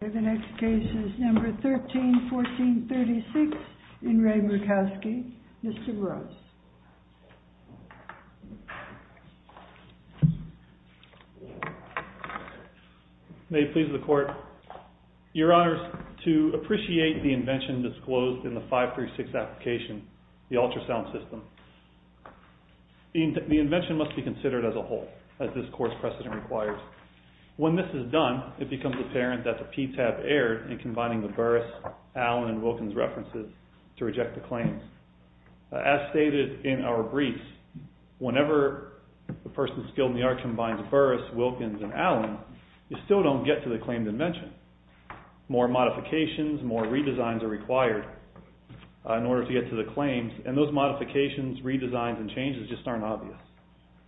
The next case is number 13-14-36 in Re Murkowski. Mr. Gross. May it please the court, your honors, to appreciate the invention disclosed in the 536 application, the ultrasound system. The invention must be considered as a whole, as this court's precedent requires. When this is done, it becomes apparent that the PTAB erred in combining the Burris, Allen, and Wilkins references to reject the claims. As stated in our brief, whenever a person skilled in the art combines Burris, Wilkins, and Allen, you still don't get to the claimed invention. More modifications, more redesigns are required in order to get to the claims, and those modifications, redesigns, and changes just aren't obvious.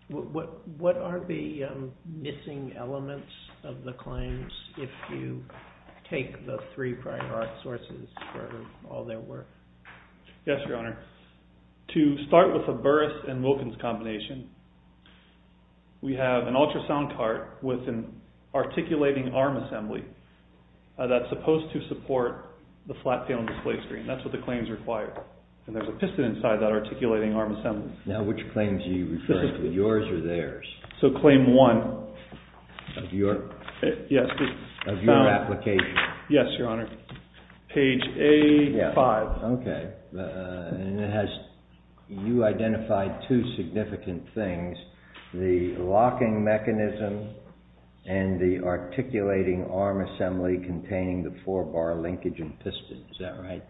What are the missing elements of the claims if you take the three prior art sources for all their worth? Yes, your honor. To start with the Burris and Wilkins combination, we have an ultrasound cart with an articulating arm assembly that's supposed to support the flat film display screen. That's what the claims require, and there's a piston inside that articulating arm assembly. Now, which claims are you referring to, yours or theirs? So claim one. Of your application? Yes, your honor. Page A5. Okay, and it has, you identified two significant things, the locking mechanism and the articulating arm assembly containing the four bar linkage and piston, is that right?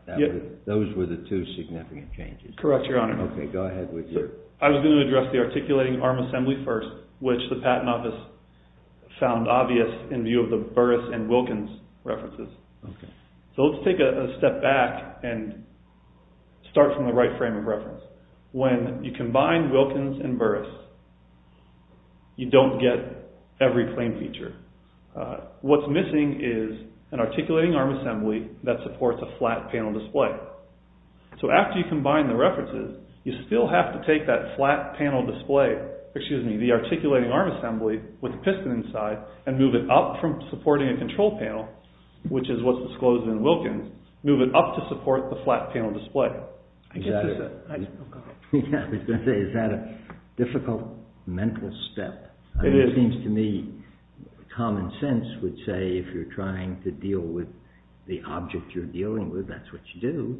Those were the two significant changes. Correct, your honor. I was going to address the articulating arm assembly first, which the Patent Office found obvious in view of the Burris and Wilkins references. So let's take a step back and start from the right frame of reference. When you combine Wilkins and Burris, you don't get every claim feature. What's missing is an articulating arm assembly that supports a flat panel display. So after you combine the references, you still have to take that flat panel display, excuse me, the articulating arm assembly with the piston inside, and move it up from supporting a control panel, which is what's disclosed in Wilkins, move it up to support the flat panel display. Is that a difficult mental step? It is. It seems to me common sense would say if you're trying to deal with the object you're dealing with, that's what you do,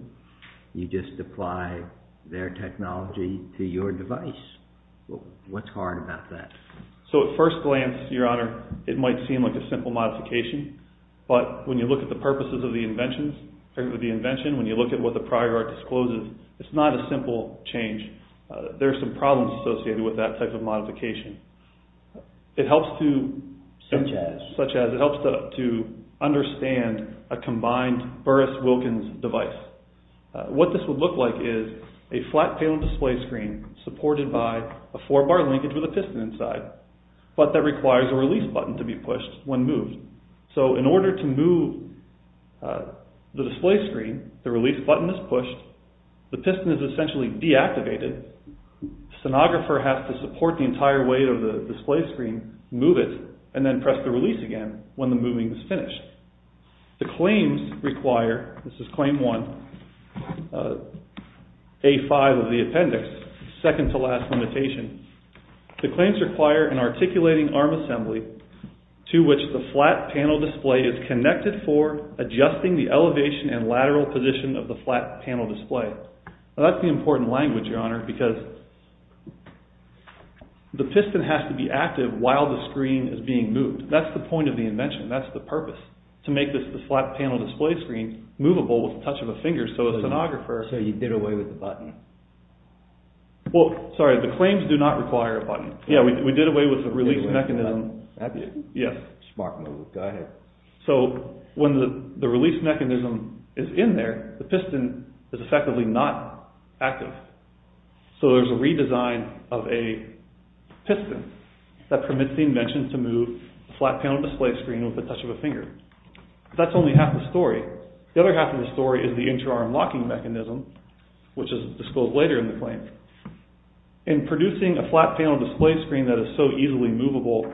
you just apply their technology to your device. What's hard about that? So at first glance, your honor, it might seem like a simple modification, but when you look at the purposes of the invention, when you look at what the prior art discloses, it's not a simple change. There are some problems associated with that type of modification. It helps to understand a combined Burris-Wilkins device. What this would look like is a flat panel display screen supported by a four bar linkage with a piston inside, but that requires a release button to be pushed when moved. So in order to move the display screen, the release button is pushed, the piston is essentially deactivated, the sonographer has to support the entire weight of the display screen, move it, and then press the release again when the moving is finished. The claims require, this is claim one, A5 of the appendix, second to last limitation, the claims require an articulating arm assembly to which the flat panel display is connected for adjusting the elevation and lateral position of the flat panel display. That's the important language, your honor, because the piston has to be active while the screen is being moved. That's the point of the invention, that's the purpose, to make the flat panel display screen movable with the touch of a finger so the sonographer... So you did away with the button? Well, sorry, the claims do not require a button. Yeah, we did away with the release mechanism. Smart move, go ahead. So when the release mechanism is in there, the piston is effectively not active. So there's a redesign of a piston that permits the invention to move the flat panel display screen with the touch of a finger. That's only half the story. The other half of the story is the interarm locking mechanism, which is disclosed later in the claim. In producing a flat panel display screen that is so easily movable,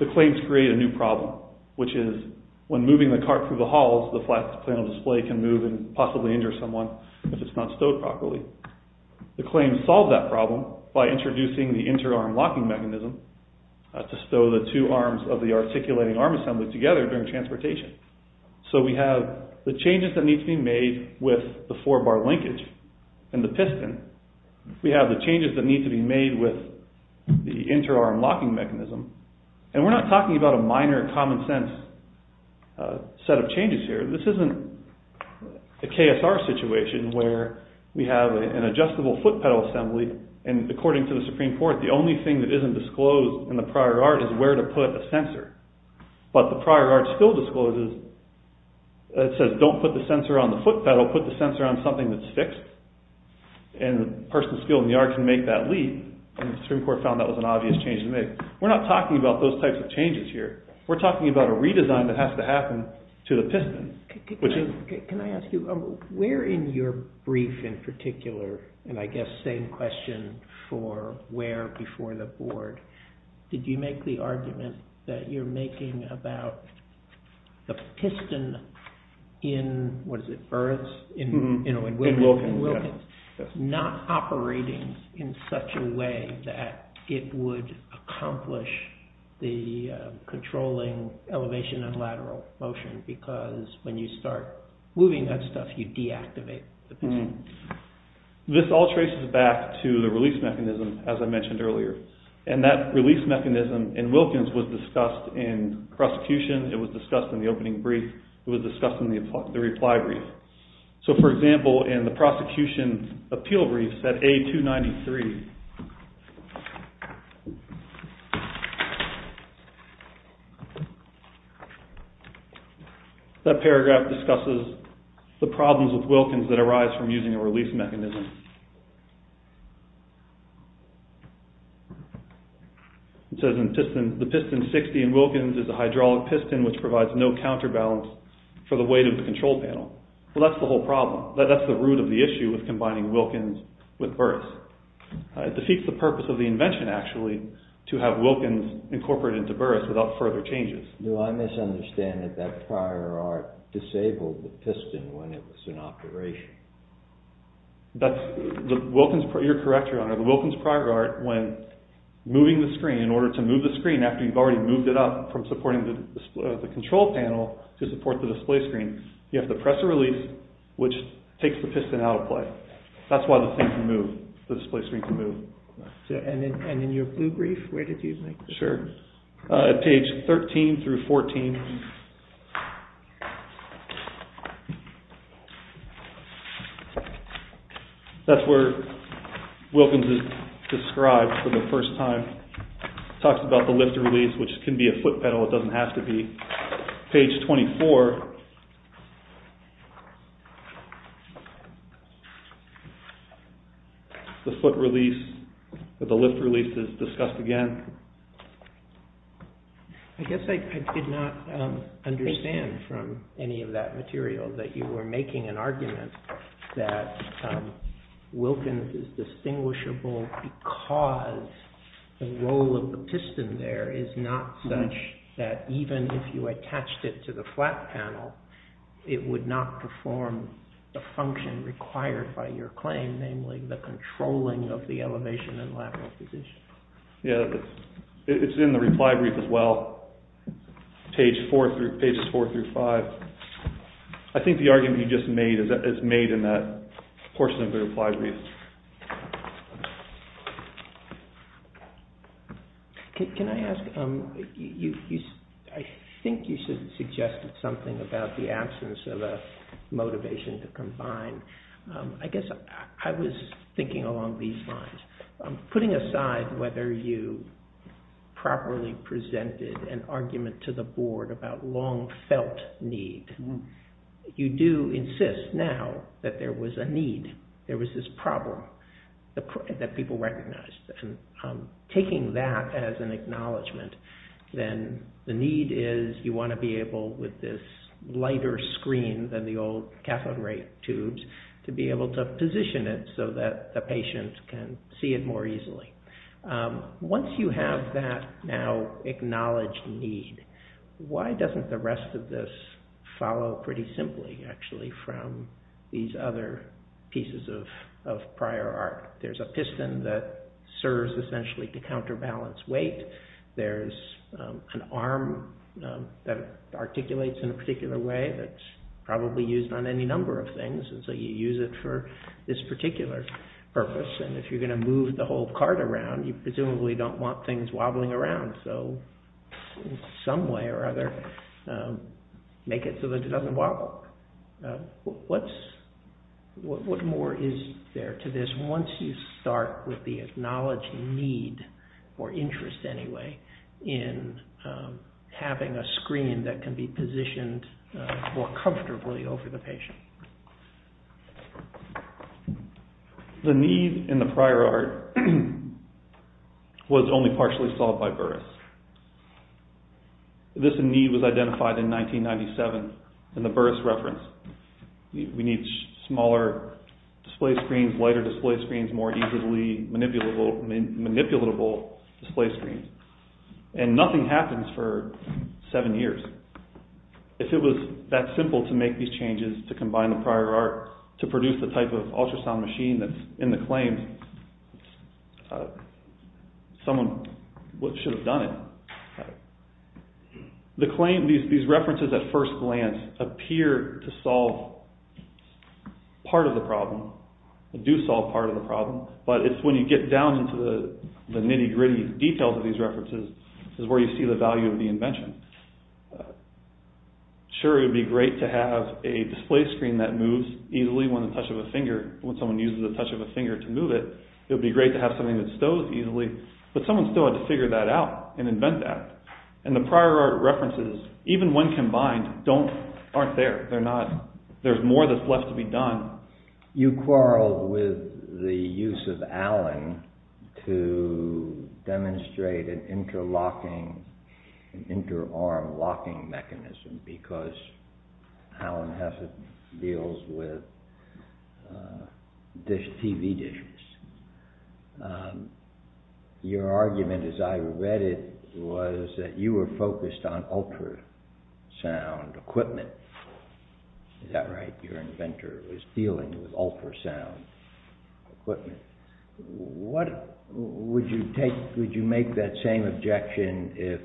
the claims create a new problem, which is when moving the cart through the halls, the flat panel display can move and possibly injure someone if it's not stowed properly. The claim solved that problem by introducing the interarm locking mechanism to stow the two arms of the articulating arm assembly together during transportation. So we have the changes that need to be made with the four bar linkage and the piston. We have the changes that need to be made with the interarm locking mechanism. And we're not talking about a minor common sense set of changes here. This isn't a KSR situation where we have an adjustable foot pedal assembly and according to the Supreme Court, the only thing that isn't disclosed in the prior art is where to put a sensor. But the prior art still discloses, it says don't put the sensor on the foot pedal, put the sensor on something that's fixed and the person skilled in the art can make that leap. And the Supreme Court found that was an obvious change to make. We're not talking about those types of changes here. We're talking about a redesign that has to happen to the piston. Can I ask you, where in your brief in particular, and I guess same question for where before the board, did you make the argument that you're making about the piston in Wilkins not operating in such a way that it would accomplish the controlling elevation and lateral motion? When you start moving that stuff, you deactivate the piston. This all traces back to the release mechanism as I mentioned earlier. And that release mechanism in Wilkins was discussed in prosecution. It was discussed in the opening brief. It was discussed in the reply brief. So for example, in the prosecution's appeal brief at A293, that paragraph discusses the problems with Wilkins that arise from using a release mechanism. It says the piston 60 in Wilkins is a hydraulic piston which provides no counterbalance for the weight of the control panel. Well, that's the whole problem. That's the root of the issue with combining Wilkins with Burris. It defeats the purpose of the invention actually to have Wilkins incorporated into Burris without further changes. Do I misunderstand that that prior art disabled the piston when it was in operation? You're correct, Your Honor. The Wilkins prior art, when moving the screen, in order to move the screen after you've already moved it up from supporting the control panel to support the display screen, you have to press a release which takes the piston out of play. That's why the thing can move, the display screen can move. And in your blue brief, where did you make this? Sure, at page 13 through 14. That's where Wilkins is described for the first time. It talks about the lift release which can be a foot pedal, it doesn't have to be. Page 24, the foot release, the lift release is discussed again. I guess I did not understand from any of that material that you were making an argument that Wilkins is distinguishable because the role of the piston there is not such that even if you attached it to the flat panel, it would not perform the function required by your claim, namely the controlling of the elevation and lateral position. It's in the reply brief as well, pages 4 through 5. I think the argument you just made is made in that portion of the reply brief. Can I ask, I think you suggested something about the absence of a motivation to combine. I guess I was thinking along these lines. Putting aside whether you properly presented an argument to the board about long felt need, you do insist now that there was a need. There was this problem that people recognized. Taking that as an acknowledgment, then the need is you want to be able with this lighter screen than the old cathode ray tubes to be able to position it so that the patient can see it more easily. Once you have that now acknowledged need, why doesn't the rest of this follow pretty simply actually from these other pieces of prior art? There's a piston that serves essentially to counterbalance weight. There's an arm that articulates in a particular way that's probably used on any number of things. You use it for this particular purpose. If you're going to move the whole cart around, you presumably don't want things wobbling around. In some way or other, make it so that it doesn't wobble. What more is there to this? Unless you start with the acknowledged need or interest anyway in having a screen that can be positioned more comfortably over the patient. The need in the prior art was only partially solved by Burris. This need was identified in 1997 in the Burris reference. We need smaller display screens, lighter display screens, more easily manipulatable display screens. Nothing happens for seven years. If it was that simple to make these changes to combine the prior art to produce the type of ultrasound machine that's in the claim, someone should have done it. These references at first glance appear to solve part of the problem, do solve part of the problem, but it's when you get down into the nitty-gritty details of these references is where you see the value of the invention. Sure, it would be great to have a display screen that moves easily when someone uses the touch of a finger to move it. It would be great to have something that stows easily, but someone still had to figure that out and invent that. The prior art references, even when combined, aren't there. There's more that's left to be done. You quarreled with the use of Allen to demonstrate an interlocking, an interarm locking mechanism, because Allen Hesed deals with TV dishes. Your argument, as I read it, was that you were focused on ultrasound equipment. Is that right? Your inventor was dealing with ultrasound equipment. Would you make that same objection if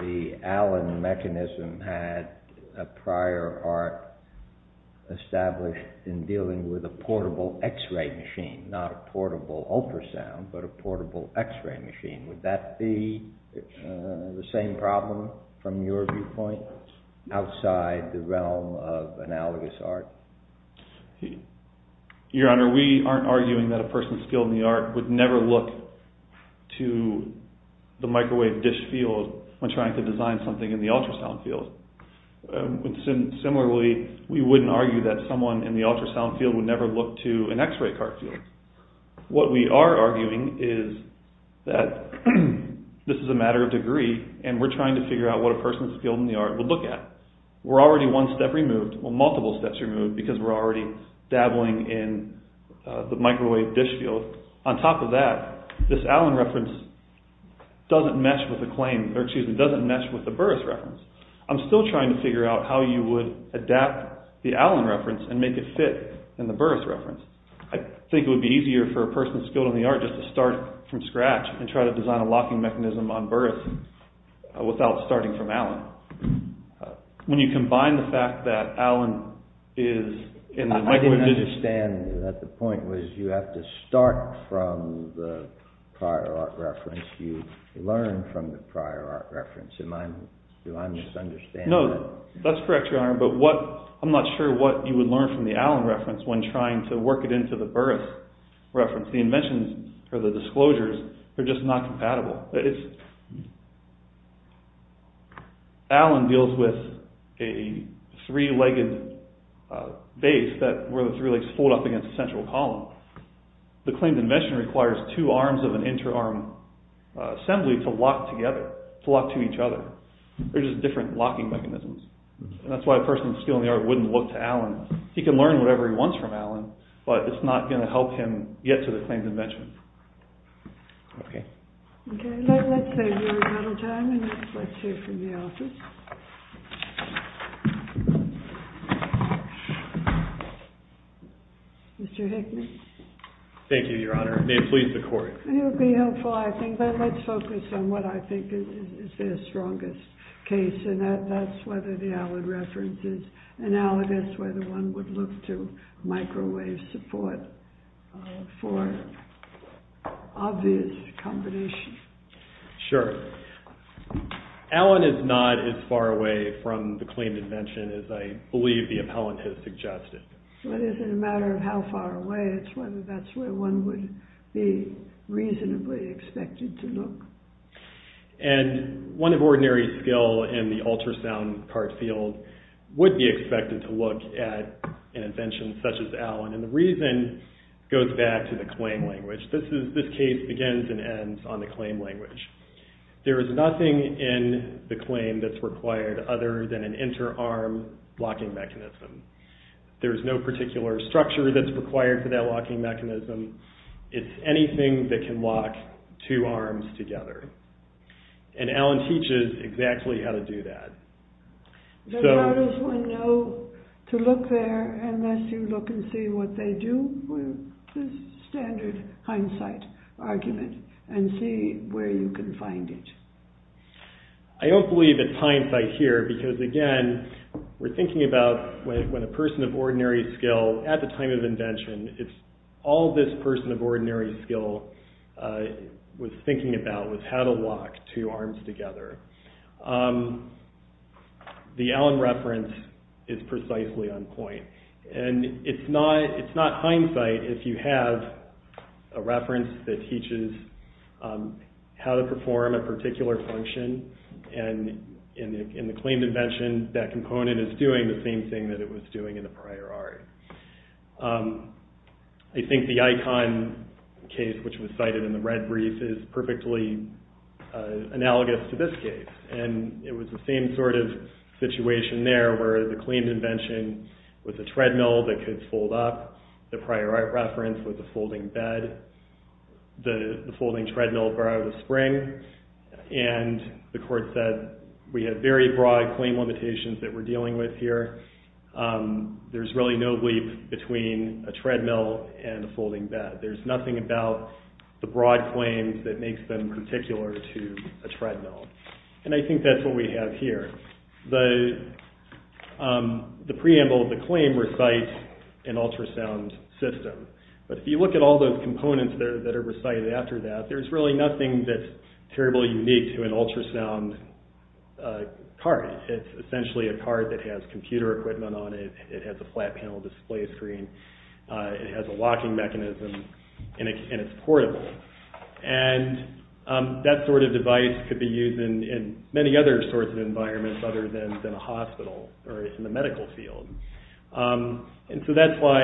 the Allen mechanism had a prior art established in dealing with a portable x-ray machine, not a portable ultrasound, but a portable x-ray machine? Would that be the same problem from your viewpoint outside the realm of analogous art? Your Honor, we aren't arguing that a person skilled in the art would never look to the microwave dish field when trying to design something in the ultrasound field. Similarly, we wouldn't argue that someone in the ultrasound field would never look to an x-ray cart field. What we are arguing is that this is a matter of degree, and we're trying to figure out what a person skilled in the art would look at. We're already one step removed, well, multiple steps removed, because we're already dabbling in the microwave dish field. On top of that, this Allen reference doesn't mesh with the Burris reference. I'm still trying to figure out how you would adapt the Allen reference and make it fit in the Burris reference. I think it would be easier for a person skilled in the art just to start from scratch and try to design a locking mechanism on Burris without starting from Allen. When you combine the fact that Allen is in the microwave dish... I didn't understand that the point was you have to start from the prior art reference, you learn from the prior art reference. Do I misunderstand that? No, that's correct, Your Honor, but I'm not sure what you would learn from the Allen reference when trying to work it into the Burris reference. The inventions, or the disclosures, are just not compatible. Allen deals with a three-legged base where the three legs fold up against a central column. The claimed invention requires two arms of an inter-arm assembly to lock together, to lock to each other. They're just different locking mechanisms. That's why a person skilled in the art wouldn't look to Allen. He can learn whatever he wants from Allen, but it's not going to help him get to the claimed invention. Okay. Okay, let's save you a little time and let's hear from the office. Mr. Hickman? Thank you, Your Honor. May it please the Court. It would be helpful, I think, but let's focus on what I think is their strongest case, and that's whether the Allen reference is analogous, and that's whether one would look to microwave support for obvious combinations. Sure. Allen is not as far away from the claimed invention as I believe the appellant has suggested. Well, it isn't a matter of how far away, it's whether that's where one would be reasonably expected to look. And one of ordinary skill in the ultrasound card field would be expected to look at an invention such as Allen, and the reason goes back to the claim language. This case begins and ends on the claim language. There is nothing in the claim that's required other than an inter-arm locking mechanism. There's no particular structure that's required for that locking mechanism. It's anything that can lock two arms together, and Allen teaches exactly how to do that. But how does one know to look there unless you look and see what they do? This is standard hindsight argument, and see where you can find it. I don't believe it's hindsight here because, again, we're thinking about when a person of ordinary skill, at the time of invention, all this person of ordinary skill was thinking about was how to lock two arms together. The Allen reference is precisely on point. And it's not hindsight if you have a reference that teaches how to perform a particular function, and in the claimed invention, that component is doing the same thing that it was doing in the prior art. I think the icon case, which was cited in the red brief, is perfectly analogous to this case, and it was the same sort of situation there where the claimed invention was a treadmill that could fold up. The prior art reference was a folding bed. The folding treadmill brought out a spring, and the court said we have very broad claim limitations that we're dealing with here. There's really no bleep between a treadmill and a folding bed. There's nothing about the broad claims that makes them particular to a treadmill, and I think that's what we have here. The preamble of the claim recites an ultrasound system, but if you look at all those components that are recited after that, there's really nothing that's terribly unique to an ultrasound cart. It's essentially a cart that has computer equipment on it. It has a flat panel display screen. It has a locking mechanism, and it's portable, and that sort of device could be used in many other sorts of environments other than a hospital or in the medical field, and so that's why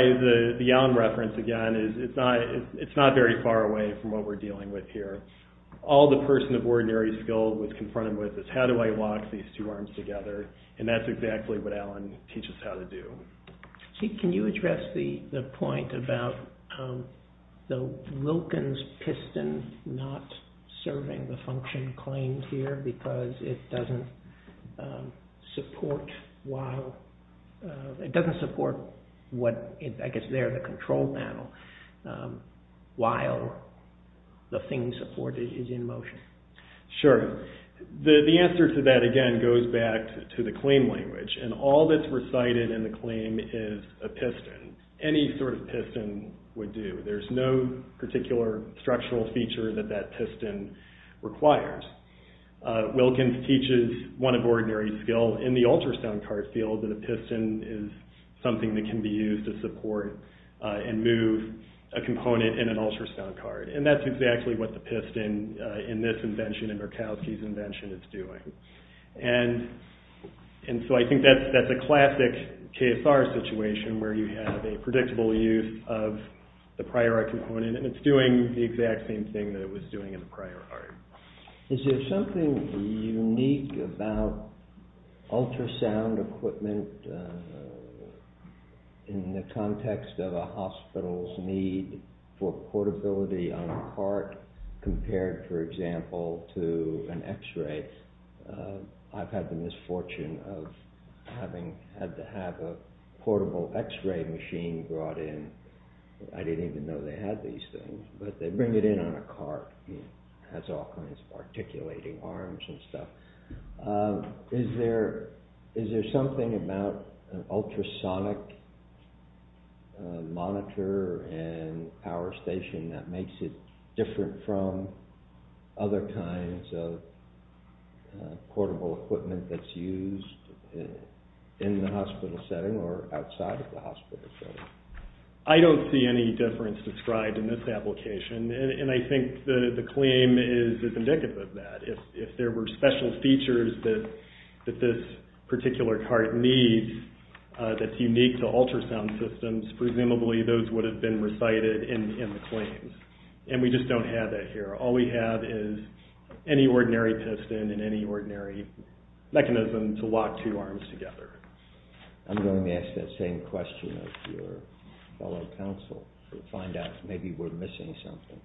the Allen reference, again, is it's not very far away from what we're dealing with here. All the person of ordinary skill was confronted with is how do I lock these two arms together, and that's exactly what Allen teaches how to do. Can you address the point about the Wilkins piston not serving the function claimed here because it doesn't support the control panel while the thing supported is in motion? Sure. The answer to that, again, goes back to the claim language, and all that's recited in the claim is a piston. Any sort of piston would do. There's no particular structural feature that that piston requires. Wilkins teaches one of ordinary skill in the ultrasound cart field that a piston is something that can be used to support and move a component in an ultrasound cart, and that's exactly what the piston in this invention, in Murkowski's invention, is doing, and so I think that's a classic KSR situation where you have a predictable use of the prior art component, and it's doing the exact same thing that it was doing in the prior art. Is there something unique about ultrasound equipment in the context of a hospital's need for portability on a cart compared, for example, to an x-ray? I've had the misfortune of having had to have a portable x-ray machine brought in. I didn't even know they had these things, but they bring it in on a cart. It has all kinds of articulating arms and stuff. Is there something about an ultrasonic monitor and power station that makes it different from other kinds of portable equipment that's used in the hospital setting or outside of the hospital setting? I don't see any difference described in this application, and I think the claim is indicative of that. If there were special features that this particular cart needs that's unique to ultrasound systems, presumably those would have been recited in the claims, and we just don't have that here. All we have is any ordinary piston and any ordinary mechanism to lock two arms together. I'm going to ask that same question of your fellow counsel to find out if maybe we're missing something.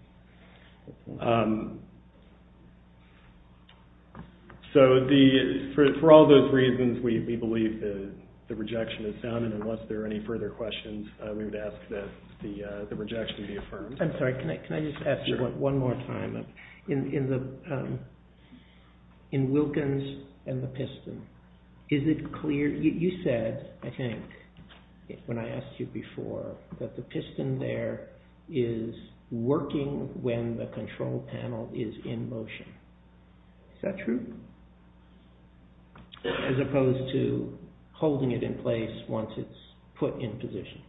For all those reasons, we believe the rejection is sound, and unless there are any further questions, we would ask that the rejection be affirmed. I'm sorry, can I just ask one more time? In Wilkins and the piston, you said, I think, when I asked you before, that the piston there is working when the control panel is in motion. Is that true? As opposed to holding it in place once it's put in position.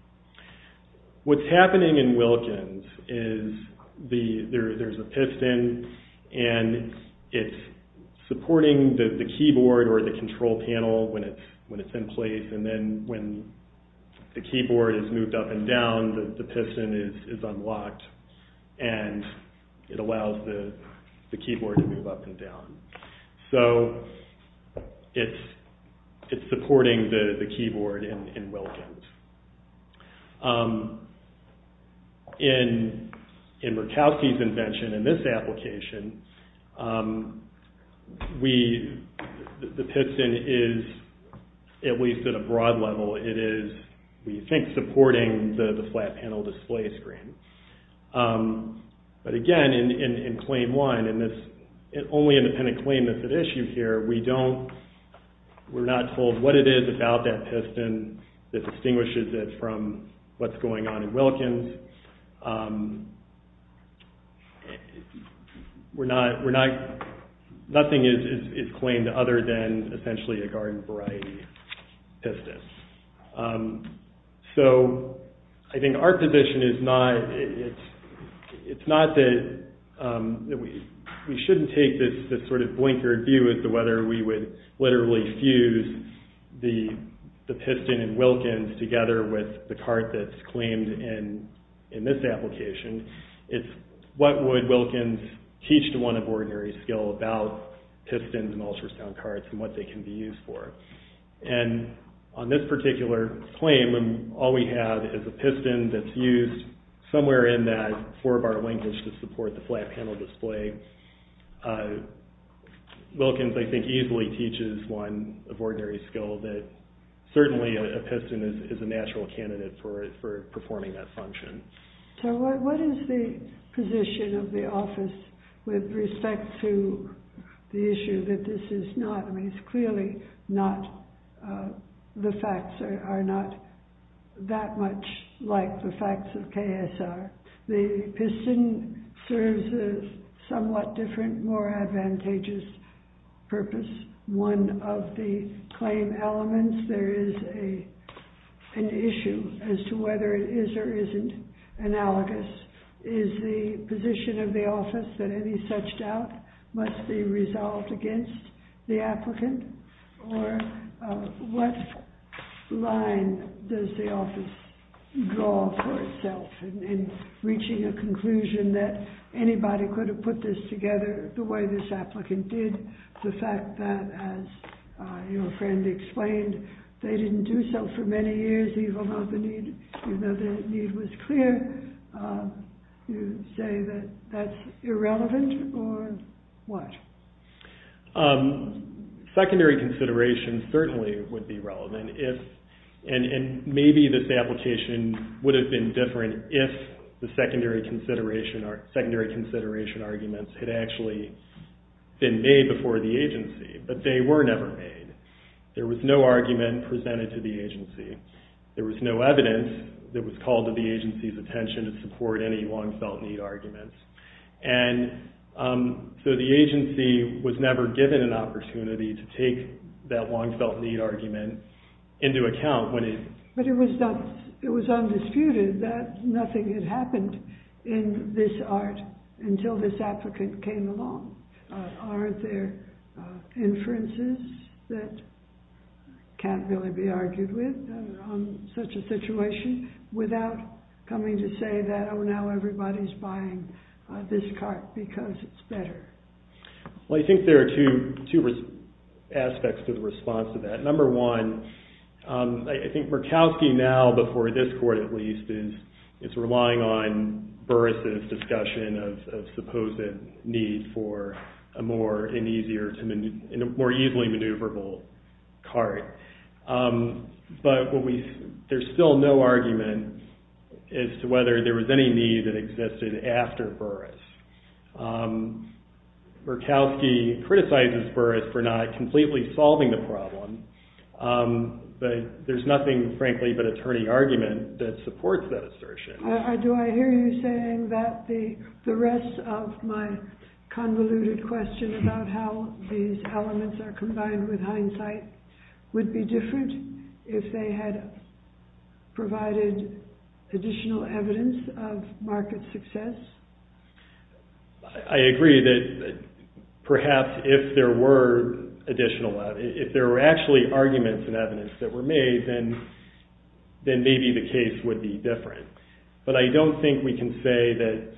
What's happening in Wilkins is there's a piston, and it's supporting the keyboard or the control panel when it's in place, and then when the keyboard is moved up and down, the piston is unlocked, and it allows the keyboard to move up and down. So, it's supporting the keyboard in Wilkins. In Murkowski's invention, in this application, the piston is, at least at a broad level, it is, we think, supporting the flat panel display screen. But again, in claim one, in this only independent claim that's at issue here, we don't, we're not told what it is about that piston that distinguishes it from what's going on in Wilkins. We're not, nothing is claimed other than essentially a garden variety piston. So, I think our position is not, it's not that we shouldn't take this sort of blinkered view as to whether we would literally fuse the piston in Wilkins together with the cart that's claimed in this application. It's what would Wilkins teach to one of ordinary skill about pistons and ultrasound carts and what they can be used for. And on this particular claim, all we have is a piston that's used somewhere in that four bar linkage to support the flat panel display. Wilkins, I think, easily teaches one of ordinary skill that certainly a piston is a natural candidate for performing that function. So, what is the position of the office with respect to the issue that this is not, I mean, it's clearly not, the facts are not that much like the facts of KSR. The piston serves a somewhat different, more advantageous purpose. One of the claim elements, there is an issue as to whether it is or isn't analogous. Is the position of the office that any such doubt must be resolved against the applicant? Or what line does the office draw for itself in reaching a conclusion that anybody could have put this together the way this applicant did? The fact that, as your friend explained, they didn't do so for many years, even though the need was clear. You say that that's irrelevant or what? Secondary consideration certainly would be relevant. And maybe this application would have been different if the secondary consideration arguments had actually been made before the agency, but they were never made. There was no argument presented to the agency. There was no evidence that was called to the agency's attention to support any long felt need arguments. And so the agency was never given an opportunity to take that long felt need argument into account. But it was undisputed that nothing had happened in this art until this applicant came along. Are there inferences that can't really be argued with on such a situation without coming to say that, oh, now everybody's buying this cart because it's better? Well, I think there are two aspects to the response to that. Number one, I think Murkowski now, before this court at least, is relying on Burris' discussion of supposed need for a more easily maneuverable cart. But there's still no argument as to whether there was any need that existed after Burris. Murkowski criticizes Burris for not completely solving the problem, but there's nothing, frankly, but attorney argument that supports that assertion. Do I hear you saying that the rest of my convoluted question about how these elements are combined with hindsight would be different if they had provided additional evidence of market success? I agree that perhaps if there were additional, if there were actually arguments and evidence that were made, then maybe the case would be different. But I don't think we can say that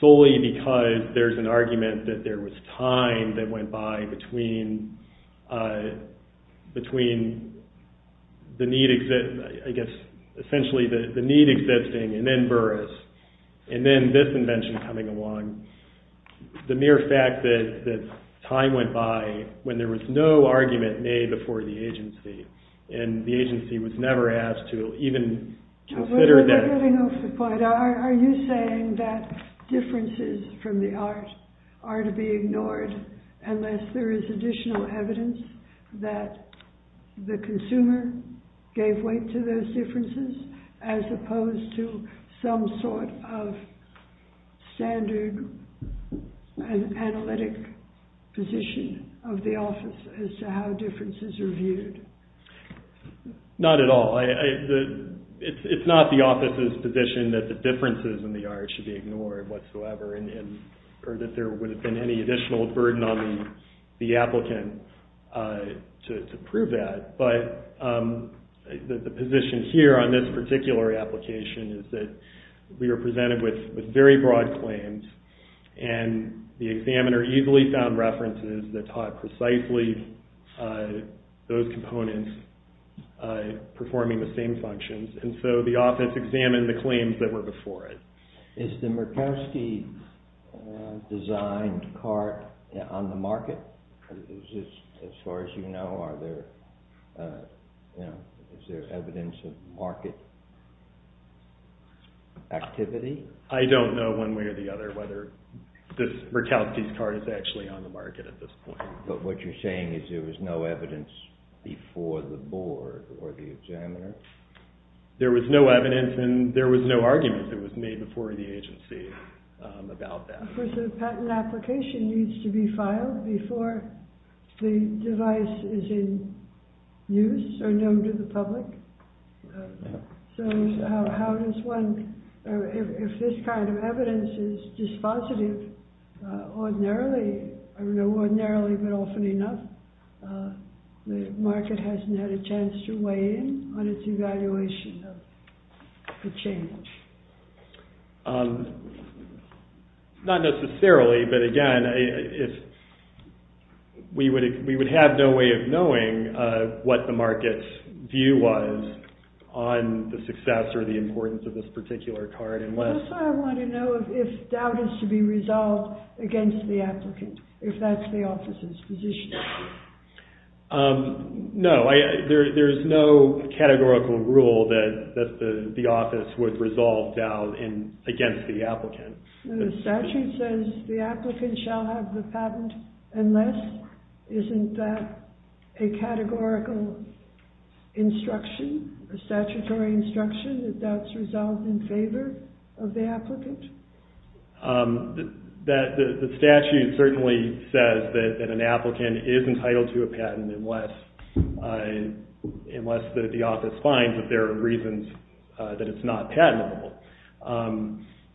solely because there's an argument that there was time that went by between the need, I guess, essentially the need existing and then Burris and then this invention coming along. The mere fact that time went by when there was no argument made before the agency and the agency was never asked to even consider that. Are you saying that differences from the art are to be ignored unless there is additional evidence that the consumer gave weight to those differences as opposed to some sort of standard analytic position of the office as to how differences are viewed? Not at all. It's not the office's position that the differences in the art should be ignored whatsoever or that there would have been any additional burden on the applicant to prove that. But the position here on this particular application is that we are presented with very broad claims and the examiner easily found references that taught precisely those components performing the same functions. And so the office examined the claims that were before it. Is the Murkowski designed cart on the market? As far as you know, is there evidence of market activity? I don't know one way or the other whether this Murkowski's cart is actually on the market at this point. But what you're saying is there was no evidence before the board or the examiner? There was no evidence and there was no argument that was made before the agency about that. The patent application needs to be filed before the device is in use or known to the public. So how does one, if this kind of evidence is dispositive ordinarily, I don't know ordinarily but often enough, the market hasn't had a chance to weigh in on its evaluation of the change? Not necessarily, but again, we would have no way of knowing what the market's view was on the success or the importance of this particular cart. That's why I want to know if doubt is to be resolved against the applicant, if that's the office's position. No, there's no categorical rule that the office would resolve doubt against the applicant. The statute says the applicant shall have the patent unless, isn't that a categorical instruction, a statutory instruction that that's resolved in favor of the applicant? The statute certainly says that an applicant is entitled to a patent unless the office finds that there are reasons that it's not patentable.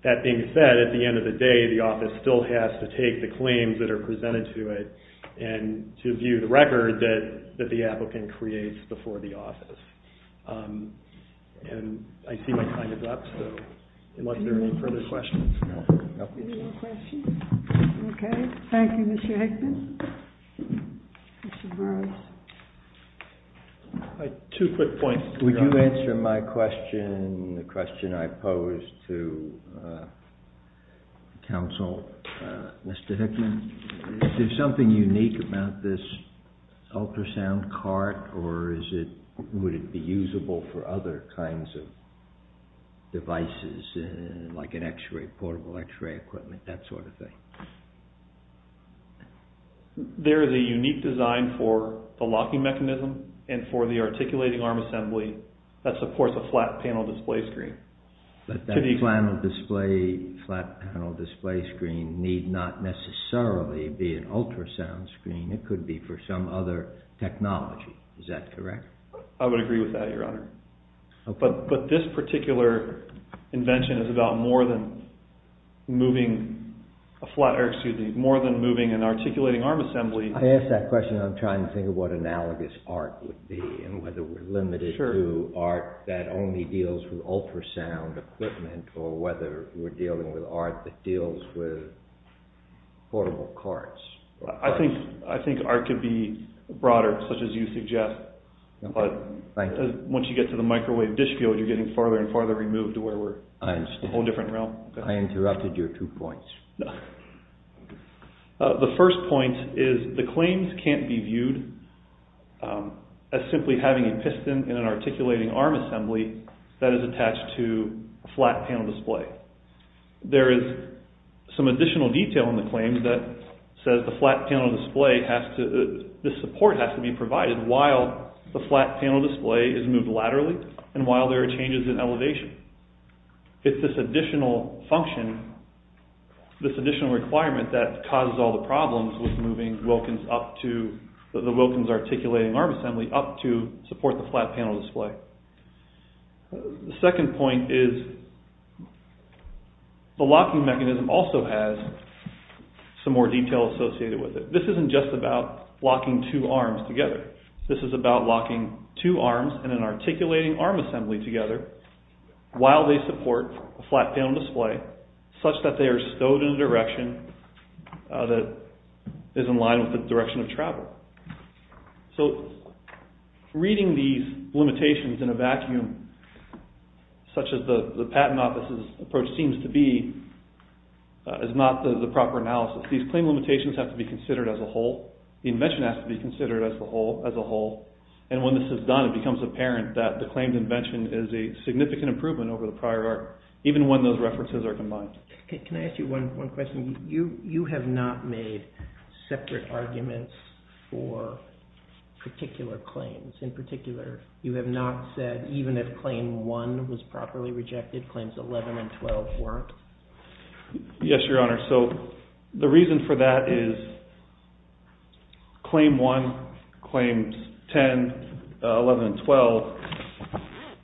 That being said, at the end of the day, the office still has to take the claims that are presented to it and to view the record that the applicant creates before the office. I see my time is up, so unless there are any further questions. Any more questions? Okay. Thank you, Mr. Hickman. Mr. Burrows. Two quick points. Would you answer my question, the question I posed to counsel, Mr. Hickman? Is there something unique about this ultrasound cart, or would it be usable for other kinds of devices, like an x-ray, portable x-ray equipment, that sort of thing? There is a unique design for the locking mechanism and for the articulating arm assembly that supports a flat panel display screen. But that flat panel display screen need not necessarily be an ultrasound screen. It could be for some other technology. Is that correct? I would agree with that, Your Honor. But this particular invention is about more than moving an articulating arm assembly. I ask that question, I'm trying to think of what analogous art would be and whether we're limited to art that only deals with ultrasound equipment or whether we're dealing with art that deals with portable carts. I think art could be broader, such as you suggest. But once you get to the microwave dish field, you're getting farther and farther removed to where we're in a whole different realm. I interrupted your two points. The first point is the claims can't be viewed as simply having a piston in an articulating arm assembly that is attached to a flat panel display. There is some additional detail in the claims that says the flat panel display has to, the support has to be provided while the flat panel display is moved laterally and while there are changes in elevation. It's this additional function, this additional requirement that causes all the problems with moving Wilkins up to, the Wilkins articulating arm assembly up to support the flat panel display. The second point is the locking mechanism also has some more detail associated with it. This isn't just about locking two arms together. This is about locking two arms in an articulating arm assembly together while they support a flat panel display such that they are stowed in a direction that is in line with the direction of travel. So reading these limitations in a vacuum such as the patent office's approach seems to be is not the proper analysis. These claim limitations have to be considered as a whole. The invention has to be considered as a whole. And when this is done, it becomes apparent that the claimed invention is a significant improvement over the prior art, even when those references are combined. Can I ask you one question? You have not made separate arguments for particular claims. In particular, you have not said even if claim 1 was properly rejected, claims 11 and 12 weren't? Yes, Your Honor. So the reason for that is claim 1, claims 10, 11, and 12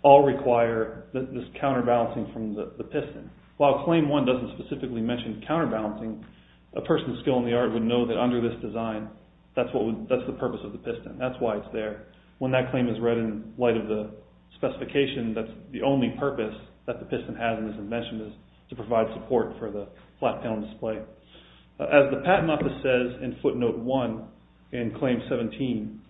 all require this counterbalancing from the piston. While claim 1 doesn't specifically mention counterbalancing, a person with skill in the art would know that under this design, that's the purpose of the piston. That's why it's there. When that claim is read in light of the specification, that's the only purpose that the piston has in this invention is to provide support for the flat panel display. As the patent office says in footnote 1 in claim 17,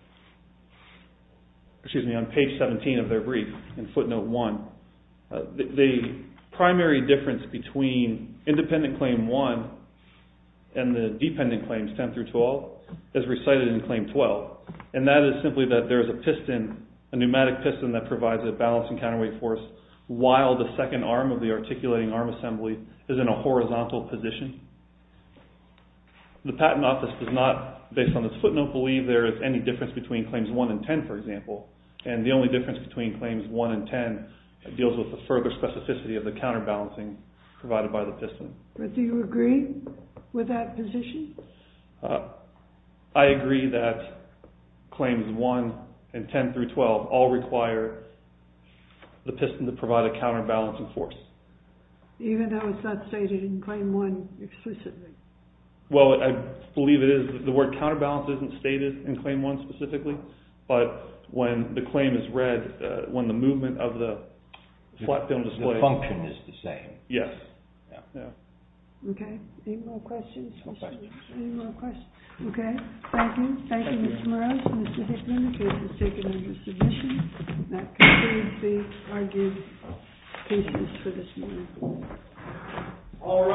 excuse me, on page 17 of their brief in footnote 1, the primary difference between independent claim 1 and the dependent claims 10 through 12 is recited in claim 12. And that is simply that there is a pneumatic piston that provides a balancing counterweight force while the second arm of the articulating arm assembly is in a horizontal position. The patent office does not, based on this footnote, believe there is any difference between claims 1 and 10, for example. And the only difference between claims 1 and 10 deals with the further specificity of the counterbalancing provided by the piston. But do you agree with that position? I agree that claims 1 and 10 through 12 all require the piston to provide a counterbalancing force. Even though it's not stated in claim 1 explicitly? Well, I believe it is. The word counterbalance isn't stated in claim 1 specifically. But when the claim is read, when the movement of the flat film display… The function is the same. Yes. Okay. Any more questions? No questions. Any more questions? Okay. Thank you. Thank you, Mr. Morales and Mr. Hickman. This is taken under submission. That concludes the argued pieces for this morning. All rise.